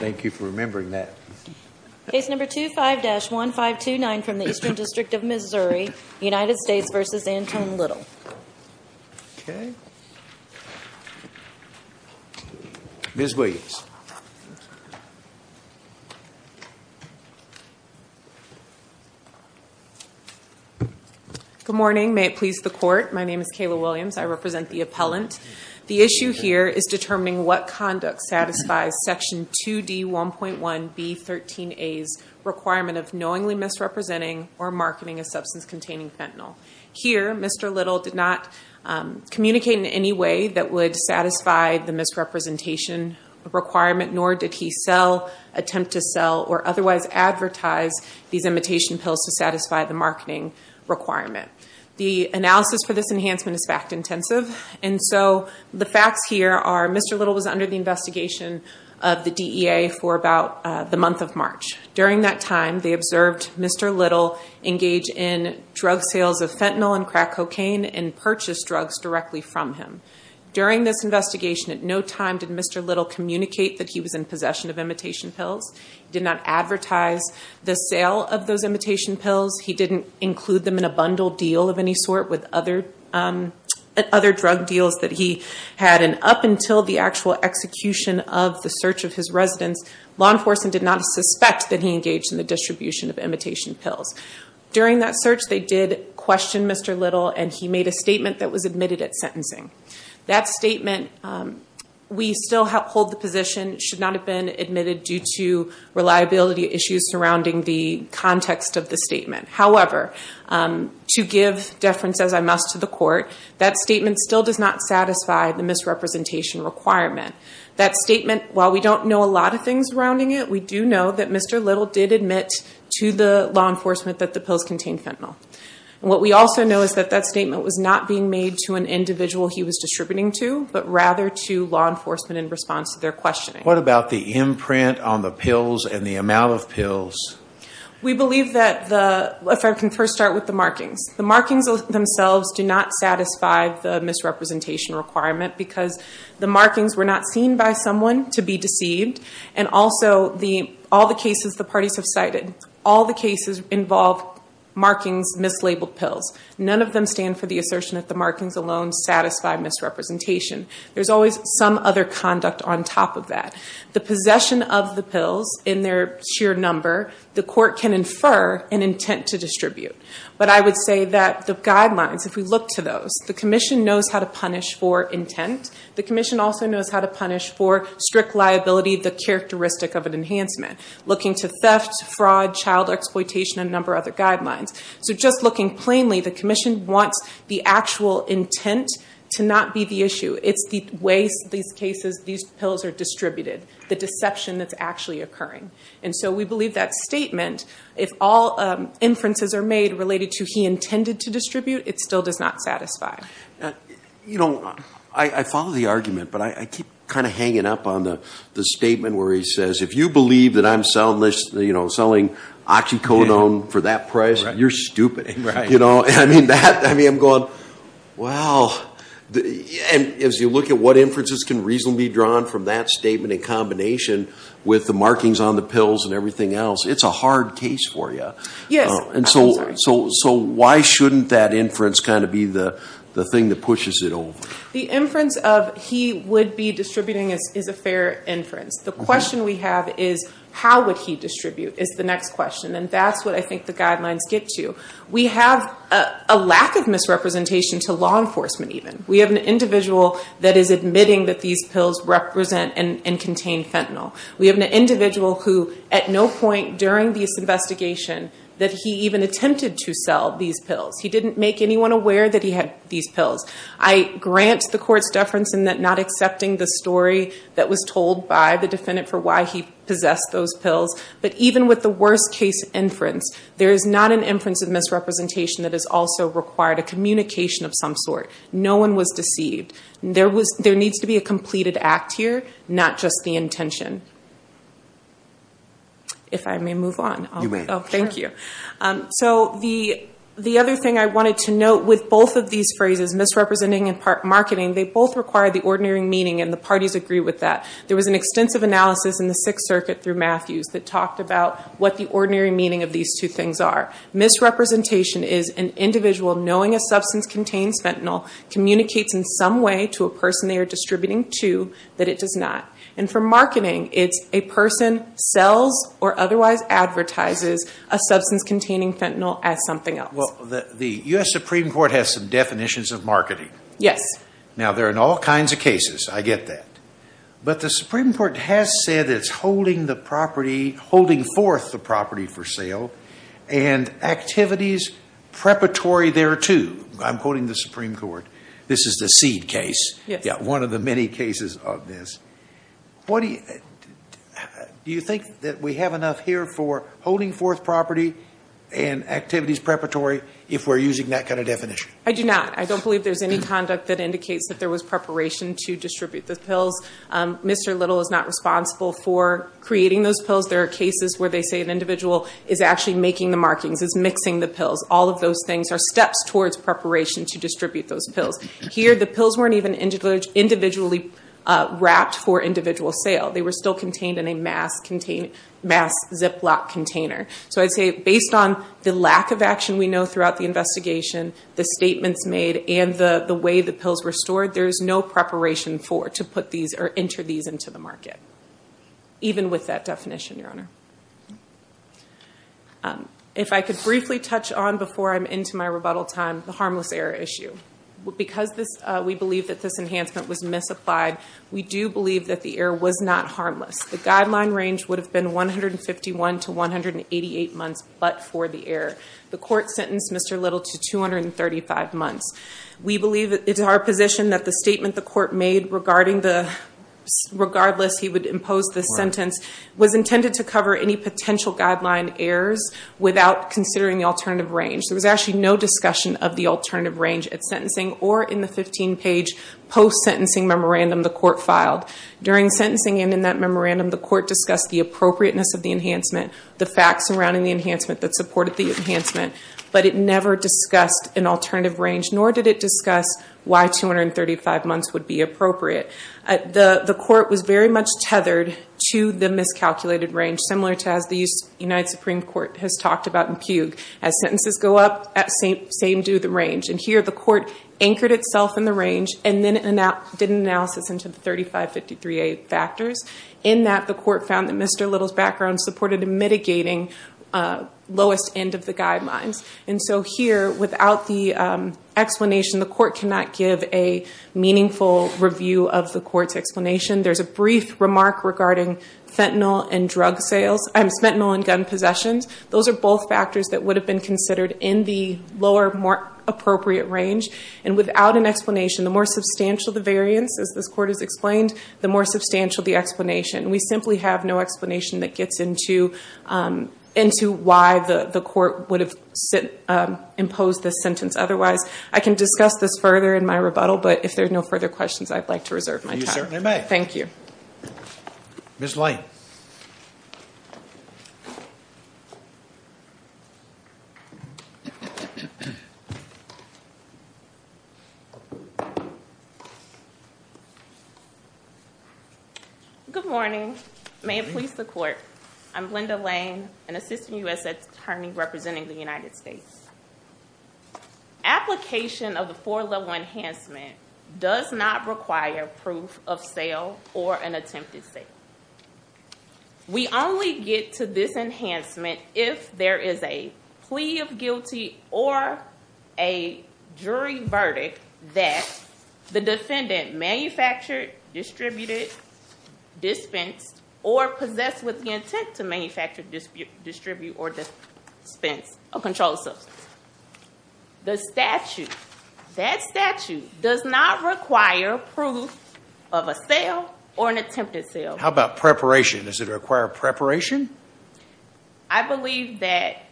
Good morning. May it please the court. My name is Kayla Williams. I represent the appellant. The issue here is determining what conduct satisfies section 2D1.1B13A's requirement of knowingly misrepresenting or marketing a substance containing fentanyl. Here Mr. Little did not communicate in any way that would satisfy the misrepresentation requirement nor did he sell, attempt to sell, or otherwise advertise these imitation pills to satisfy the marketing requirement. The analysis for this enhancement is fact-intensive and so the facts here are Mr. Little was under the investigation of the DEA for about the month of March. During that time they observed Mr. Little engage in drug sales of fentanyl and crack cocaine and purchase drugs directly from him. During this investigation at no time did Mr. Little communicate that he was in possession of imitation pills. He did not advertise the sale of those imitation pills. He didn't include them in a bundle deal of any sort with other drug deals that he had and up until the actual execution of the search of his residence, law enforcement did not suspect that he engaged in the distribution of imitation pills. During that search they did question Mr. Little and he made a statement that was admitted at sentencing. That statement, we still hold the position should not have been admitted due to reliability issues surrounding the context of the statement. However, to give deference as I must to the court, that statement still does not satisfy the misrepresentation requirement. That statement, while we don't know a lot of things surrounding it, we do know that Mr. Little did admit to the law enforcement that the pills contained fentanyl. What we also know is that that statement was not being made to an individual he was distributing to, but rather to law enforcement in response to their questioning. What about the imprint on the pills and the amount of pills? We believe that, if I can first start with the markings. The markings themselves do not satisfy the misrepresentation requirement because the markings were not seen by someone to be deceived and also all the cases the parties have cited, all the cases involve markings mislabeled pills. None of them stand for the assertion that the markings alone do not satisfy misrepresentation. There's always some other conduct on top of that. The possession of the pills in their sheer number, the court can infer an intent to distribute. But I would say that the guidelines, if we look to those, the commission knows how to punish for intent. The commission also knows how to punish for strict liability, the characteristic of an enhancement. Looking to theft, fraud, child exploitation, and a number of other guidelines. So just looking plainly, the commission wants the actual intent to not be the issue. It's the way these cases, these pills are distributed, the deception that's actually occurring. And so we believe that statement, if all inferences are made related to he intended to distribute, it still does not satisfy. You know, I follow the argument, but I keep kind of hanging up on the statement where he says, if you believe that I'm selling OxyContin for that price, you're stupid. You know? I mean, I'm going, wow. As you look at what inferences can reasonably be drawn from that statement in combination with the markings on the pills and everything else, it's a hard case for you. Yes. I'm sorry. So why shouldn't that inference kind of be the thing that pushes it over? The inference of he would be distributing is a fair inference. The question we have is how would he distribute is the next question. And that's what I think the guidelines get to. We have a lack of misrepresentation to law enforcement, even. We have an individual that is admitting that these pills represent and contain fentanyl. We have an individual who at no point during this investigation that he even attempted to sell these pills. He didn't make anyone aware that he had these pills. I grant the court's deference in that not accepting the story that was told by the defendant for why he possessed those pills. But even with the worst case inference, there is not an inference of misrepresentation that is also required, a communication of some sort. No one was deceived. There needs to be a completed act here, not just the intention. If I may move on. Thank you. The other thing I wanted to note with both of these phrases, misrepresenting and marketing, they both require the ordinary meaning and the parties agree with that. There was an extensive analysis in the Sixth Circuit through Matthews that talked about what the ordinary meaning of these two things are. Misrepresentation is an individual knowing a substance contains fentanyl communicates in some way to a person they are distributing to that it does not. And for marketing, it's a person sells or otherwise advertises a substance containing fentanyl as something else. The U.S. Supreme Court has some definitions of marketing. Now there are all kinds of cases, I get that. But the Supreme Court has said it's holding the property, holding forth the property for sale and activities preparatory thereto. I'm quoting the Supreme Court. This is the seed case. One of the many cases of this. Do you think that we have enough here for holding forth property and activities preparatory if we're using that kind of definition? I do not. I don't believe there's any conduct that indicates that there was preparation to distribute the pills. Mr. Little is not responsible for creating those pills. There are cases where they say an individual is actually making the markings, is mixing the pills. All of those things are steps towards preparation to distribute those pills. Here the pills weren't even individually wrapped for individual sale. They were still contained in a mass Ziploc container. So I'd say based on the lack of action we know throughout the investigation, the statements made and the way the pills were stored, there's no preparation for to put these or enter these into the market. Even with that definition, Your Honor. If I could briefly touch on before I'm into my rebuttal time, the harmless error issue. Because we believe that this enhancement was misapplied, we do believe that the error was not harmless. The guideline range would have been 151 to 188 months but for the error. The court sentenced Mr. Little to 235 months. We believe it's our position that the statement the court made, regardless he would impose the sentence, was intended to cover any potential guideline errors without considering the alternative range. There was actually no discussion of the alternative range at sentencing or in the 15-page post-sentencing memorandum the court filed. During sentencing and in that memorandum, the court discussed the appropriateness of the enhancement, the facts surrounding the enhancement that supported the enhancement. It never discussed an alternative range nor did it discuss why 235 months would be appropriate. The court was very much tethered to the miscalculated range, similar to as the United Supreme Court has talked about in Pugue. As sentences go up, same do the range. Here the court anchored itself in the range and then did an analysis into the 3553A factors. In that, the court found that Mr. Little's background supported mitigating lowest end of the guidelines. Here, without the explanation, the court cannot give a meaningful review of the court's explanation. There's a brief remark regarding fentanyl and gun possessions. Those are both factors that would have been considered in the lower, more appropriate range. Without an explanation, the more substantial the variance, as this court has explained, the more substantial the explanation. We simply have no explanation that gets into why the court would have imposed this sentence otherwise. I can discuss this further in my rebuttal, but if there's no further questions, I'd like to reserve my time. You certainly may. Thank you. Ms. Lane. Good morning. May it please the court. I'm Linda Lane, an assistant U.S. attorney representing the United States. Application of the four-level enhancement does not require proof of sale or an attempted sale. We only get to this enhancement if there is a plea of guilty or a jury verdict that the defendant manufactured, distributed, dispensed, or possessed with the intent to manufacture, distribute, or dispense a controlled substance. That statute does not require proof of a sale or an attempted sale. How about preparation? Does it require preparation? I believe that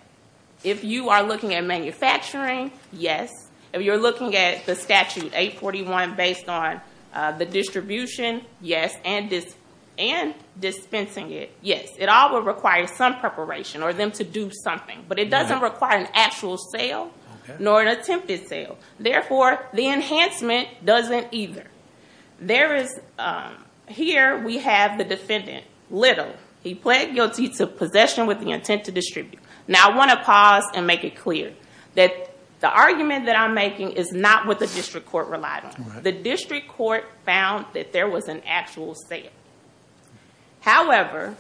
if you are looking at manufacturing, yes. If you're looking at the statute 841 based on the distribution, yes, and dispensing it, yes. It all would require some preparation or them to do something, but it doesn't require an actual sale nor an attempted sale. Therefore, the enhancement doesn't either. Here we have the defendant, Little. He pled guilty to the possession with the intent to distribute. Now, I want to pause and make it clear that the argument that I'm making is not what the district court relied on. The district court found that there was an actual sale. However,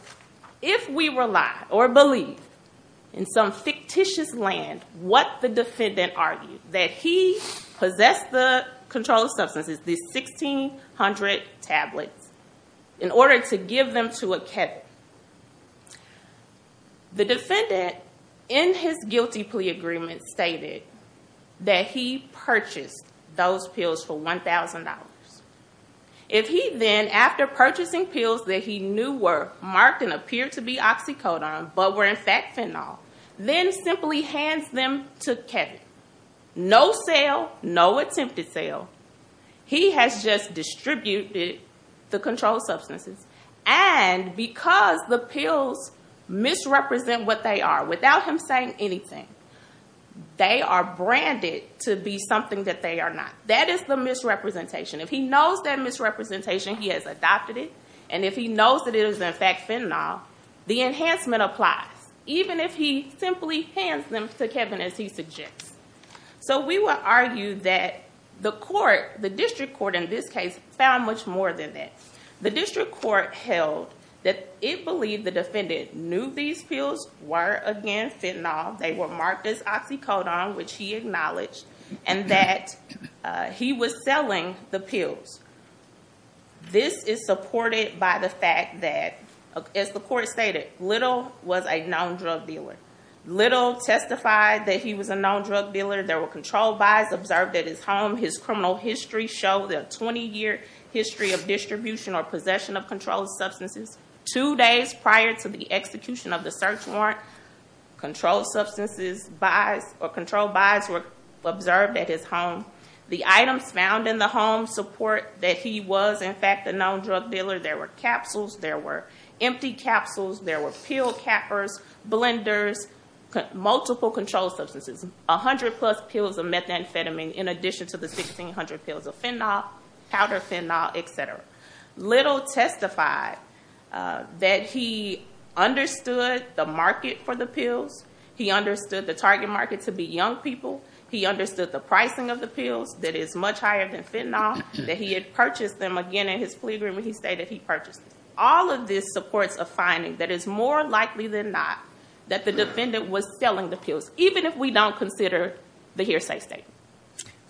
if we rely or believe in some fictitious land what the defendant argued, that he possessed the controlled substances, the 1,600 tablets, in order to give them to a cattle, that is The defendant, in his guilty plea agreement, stated that he purchased those pills for $1,000. If he then, after purchasing pills that he knew were marked and appeared to be oxycodone but were in fact fentanyl, then simply hands them to Kevin, no sale, no attempted sale. He has just distributed the controlled substances, and because the pills misrepresent what they are, without him saying anything, they are branded to be something that they are not. That is the misrepresentation. If he knows that misrepresentation, he has adopted it, and if he knows that it is in fact fentanyl, the enhancement applies, even if he simply hands them to Kevin as he suggests. We would argue that the court, the district court in this case, found much more than that. The district court held that it believed the defendant knew these pills were, again, fentanyl. They were marked as oxycodone, which he acknowledged, and that he was selling the pills. This is supported by the fact that, as the bill testified, that he was a known drug dealer. There were controlled buys observed at his home. His criminal history showed a 20-year history of distribution or possession of controlled substances. Two days prior to the execution of the search warrant, controlled substances buys or controlled buys were observed at his home. The items found in the home support that he was, in fact, a known drug dealer. There were capsules. There were empty capsules. There were pill cappers, blenders, multiple controlled substances, 100-plus pills of methamphetamine in addition to the 1,600 pills of fentanyl, powder fentanyl, etc. Little testified that he understood the market for the pills. He understood the target market to be young people. He understood the pricing of the pills that is much higher than fentanyl, that he had purchased them, again, in his plea agreement. He stated he purchased them. All of this supports a finding that it's more likely than not that the defendant was selling the pills, even if we don't consider the hearsay statement.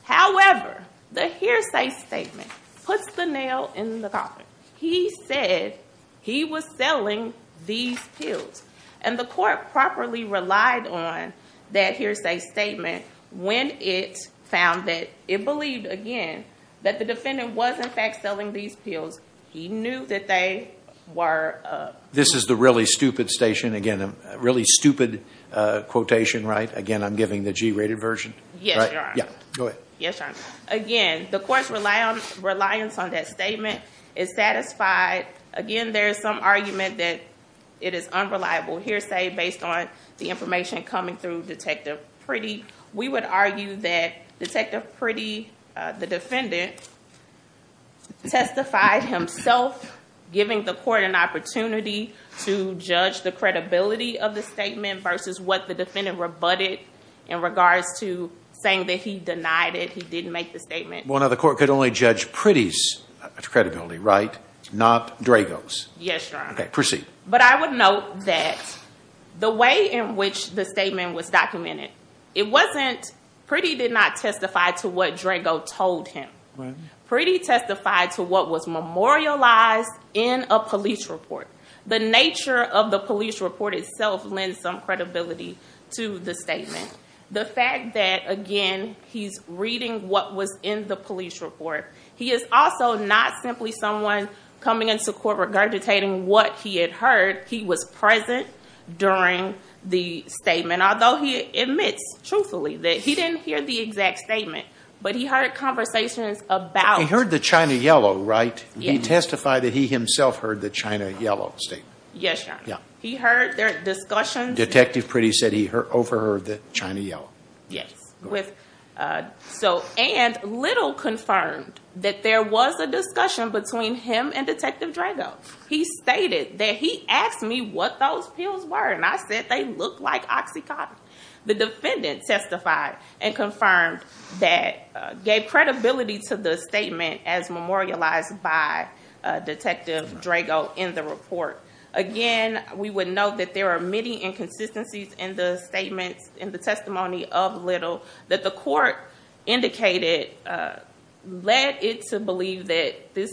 However, the hearsay statement puts the nail in the coffin. He said he was selling these pills. The court properly relied on that hearsay statement when it found that it believed, again, that the defendant was, in fact, selling these pills. He knew that they were... This is the really stupid quotation, right? Again, I'm giving the G-rated version. Yes, Your Honor. Again, the court's reliance on that statement is satisfied. Again, there is some argument that it is unreliable hearsay based on the information coming through Detective Priddy. The defendant testified himself, giving the court an opportunity to judge the credibility of the statement versus what the defendant rebutted in regards to saying that he denied it, he didn't make the statement. Well, now, the court could only judge Priddy's credibility, right? Not Drago's. Yes, Your Honor. Okay, proceed. But I would note that the way in which the statement was documented, it wasn't... Priddy did not testify to what Drago told him. Priddy testified to what was memorialized in a police report. The nature of the police report itself lends some credibility to the statement. The fact that, again, he's reading what was in the police report, he is also not simply someone coming into court regurgitating what he had heard. He was present during the statement, and although he admits, truthfully, that he didn't hear the exact statement, but he heard conversations about... He heard the China yellow, right? He testified that he himself heard the China yellow statement. Yes, Your Honor. He heard their discussions... Detective Priddy said he overheard the China yellow. Yes. And little confirmed that there was a discussion between him and Detective Drago. He stated that he asked me what those pills were, and I said they looked like OxyContin. The defendant testified and confirmed that, gave credibility to the statement as memorialized by Detective Drago in the report. Again, we would note that there are many inconsistencies in the statements, in the testimony of little, that the court indicated led it to believe that this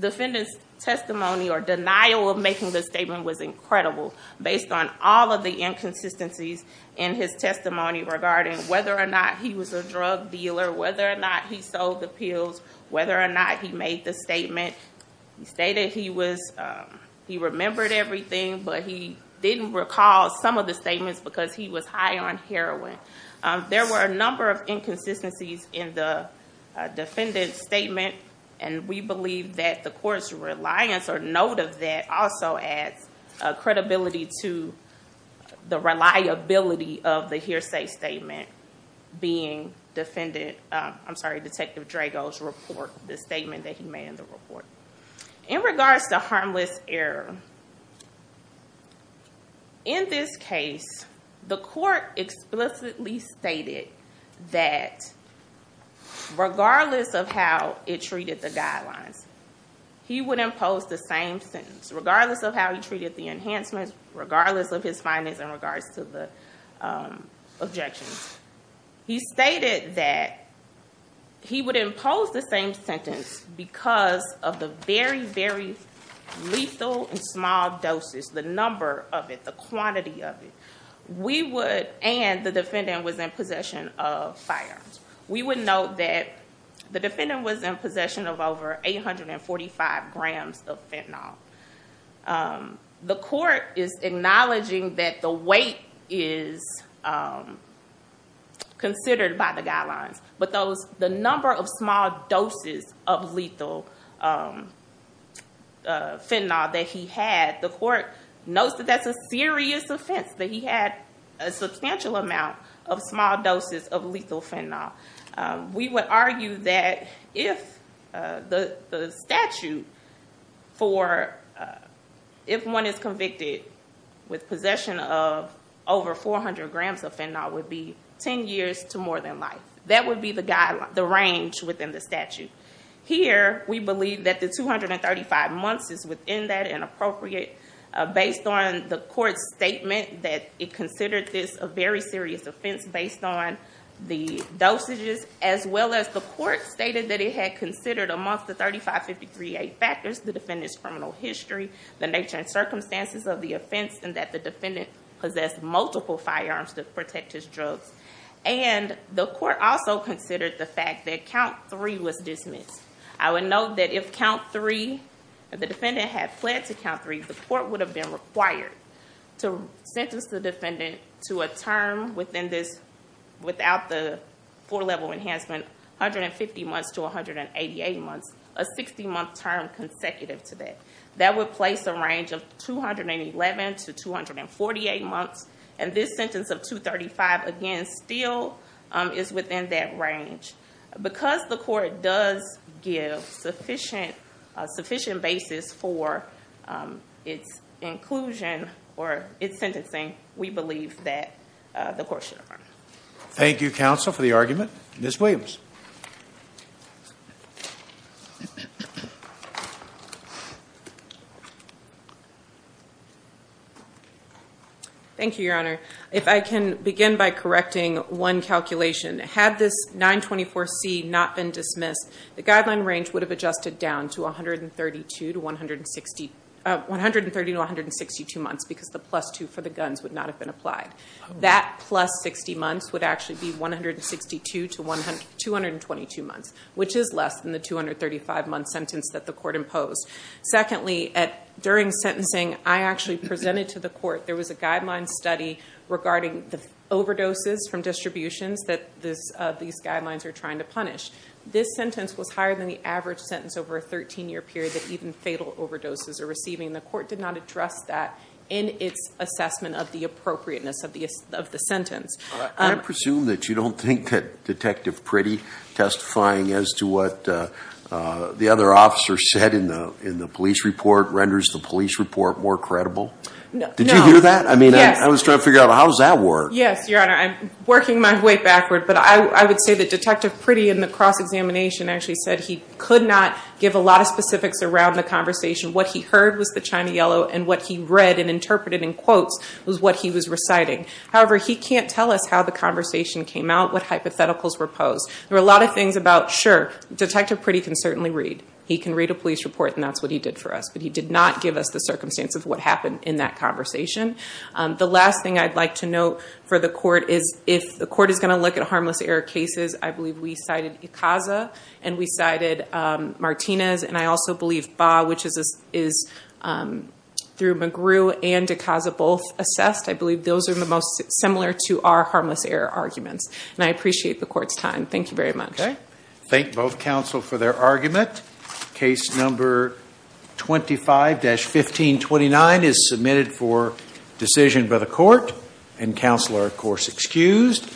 defendant's testimony or denial of making the statement was incredible based on all of the inconsistencies in his testimony regarding whether or not he was a drug dealer, whether or not he sold the pills, whether or not he made the statement. He stated he remembered everything, but he didn't recall some of the statements because he was high on heroin. There were a number of inconsistencies in the defendant's statement, and we believe that the court's reliance or note of that also adds credibility to the reliability of the hearsay statement being Defendant... I'm sorry, Detective Drago's report, the statement that he made in the report. In regards to harmless error, in this case, the court explicitly stated that the defendant implicitly stated that regardless of how it treated the guidelines, he would impose the same sentence, regardless of how he treated the enhancements, regardless of his findings in regards to the objections. He stated that he would impose the same sentence because of the very, very lethal and small doses, the number of it, the quantity of it. We would and the defendant was in possession of firearms. We would note that the defendant was in possession of over 845 grams of fentanyl. The court is acknowledging that the weight is considered by the guidelines, but the number of small doses of lethal fentanyl that he had, the substantial amount of small doses of lethal fentanyl. We would argue that if the statute for if one is convicted with possession of over 400 grams of fentanyl would be 10 years to more than life. That would be the range within the statute. Here we believe that the 235 months is within that and appropriate based on the court's statement that it considered this a very serious offense based on the dosages, as well as the court stated that it had considered amongst the 3553A factors, the defendant's criminal history, the nature and circumstances of the offense, and that the defendant possessed multiple firearms to protect his drugs. The court also considered the fact that count three was dismissed. I would note that if count three, the defendant had fled to count three, the court would have been required to sentence the defendant to a term within this without the four level enhancement, 150 months to 188 months, a 60 month term consecutive to that. That would place a range of 211 to 248 months. This sentence of 235, again, still is within that range. Because the court does give sufficient basis for its inclusion or its sentencing, we believe that the court should affirm. Thank you, counsel, for the argument. Ms. Williams. Thank you, your honor. If I can begin by correcting one calculation. Had this 924C not been dismissed, the guideline range would have adjusted down to 130 to 162 months because the plus two for the guns would not have been applied. That plus 60 months would actually be 162 to 222 months, which is less than the 235 month sentence that the court imposed. Secondly, during sentencing, I actually presented to the court, there was a guideline study regarding the overdoses from distributions that these guidelines are trying to punish. This sentence was higher than the average sentence over a 13 year period that even fatal overdoses are receiving. The court did not address that in its assessment of the appropriateness of the sentence. Can I presume that you don't think that Detective Priddy testifying as to what the other officer said in the police report renders the police report more credible? No. Did you hear that? I mean, I was trying to figure out how does that work? Yes, Your Honor. I'm working my way backward, but I would say that Detective Priddy in the cross-examination actually said he could not give a lot of specifics around the conversation. What he heard was the chime of yellow and what he read and interpreted in quotes was what he was reciting. However, he can't tell us how the conversation came out, what hypotheticals were posed. There were a lot of things about, sure, Detective Priddy can certainly read. He can read a police report and that's what he did for us, but he did not give us the circumstance of what happened in that conversation. The last thing I'd like to note for the court is if the court is going to look at harmless error cases, I believe we cited Ecaza and we cited Martinez and I also believe Baugh, which is through McGrew and Ecaza both assessed. I believe those are the most similar to our harmless error arguments. I appreciate the court's time. Thank you very much. Thank both counsel for their argument. Case number 25-1529 is submitted for decision by the court and counsel are of course excused.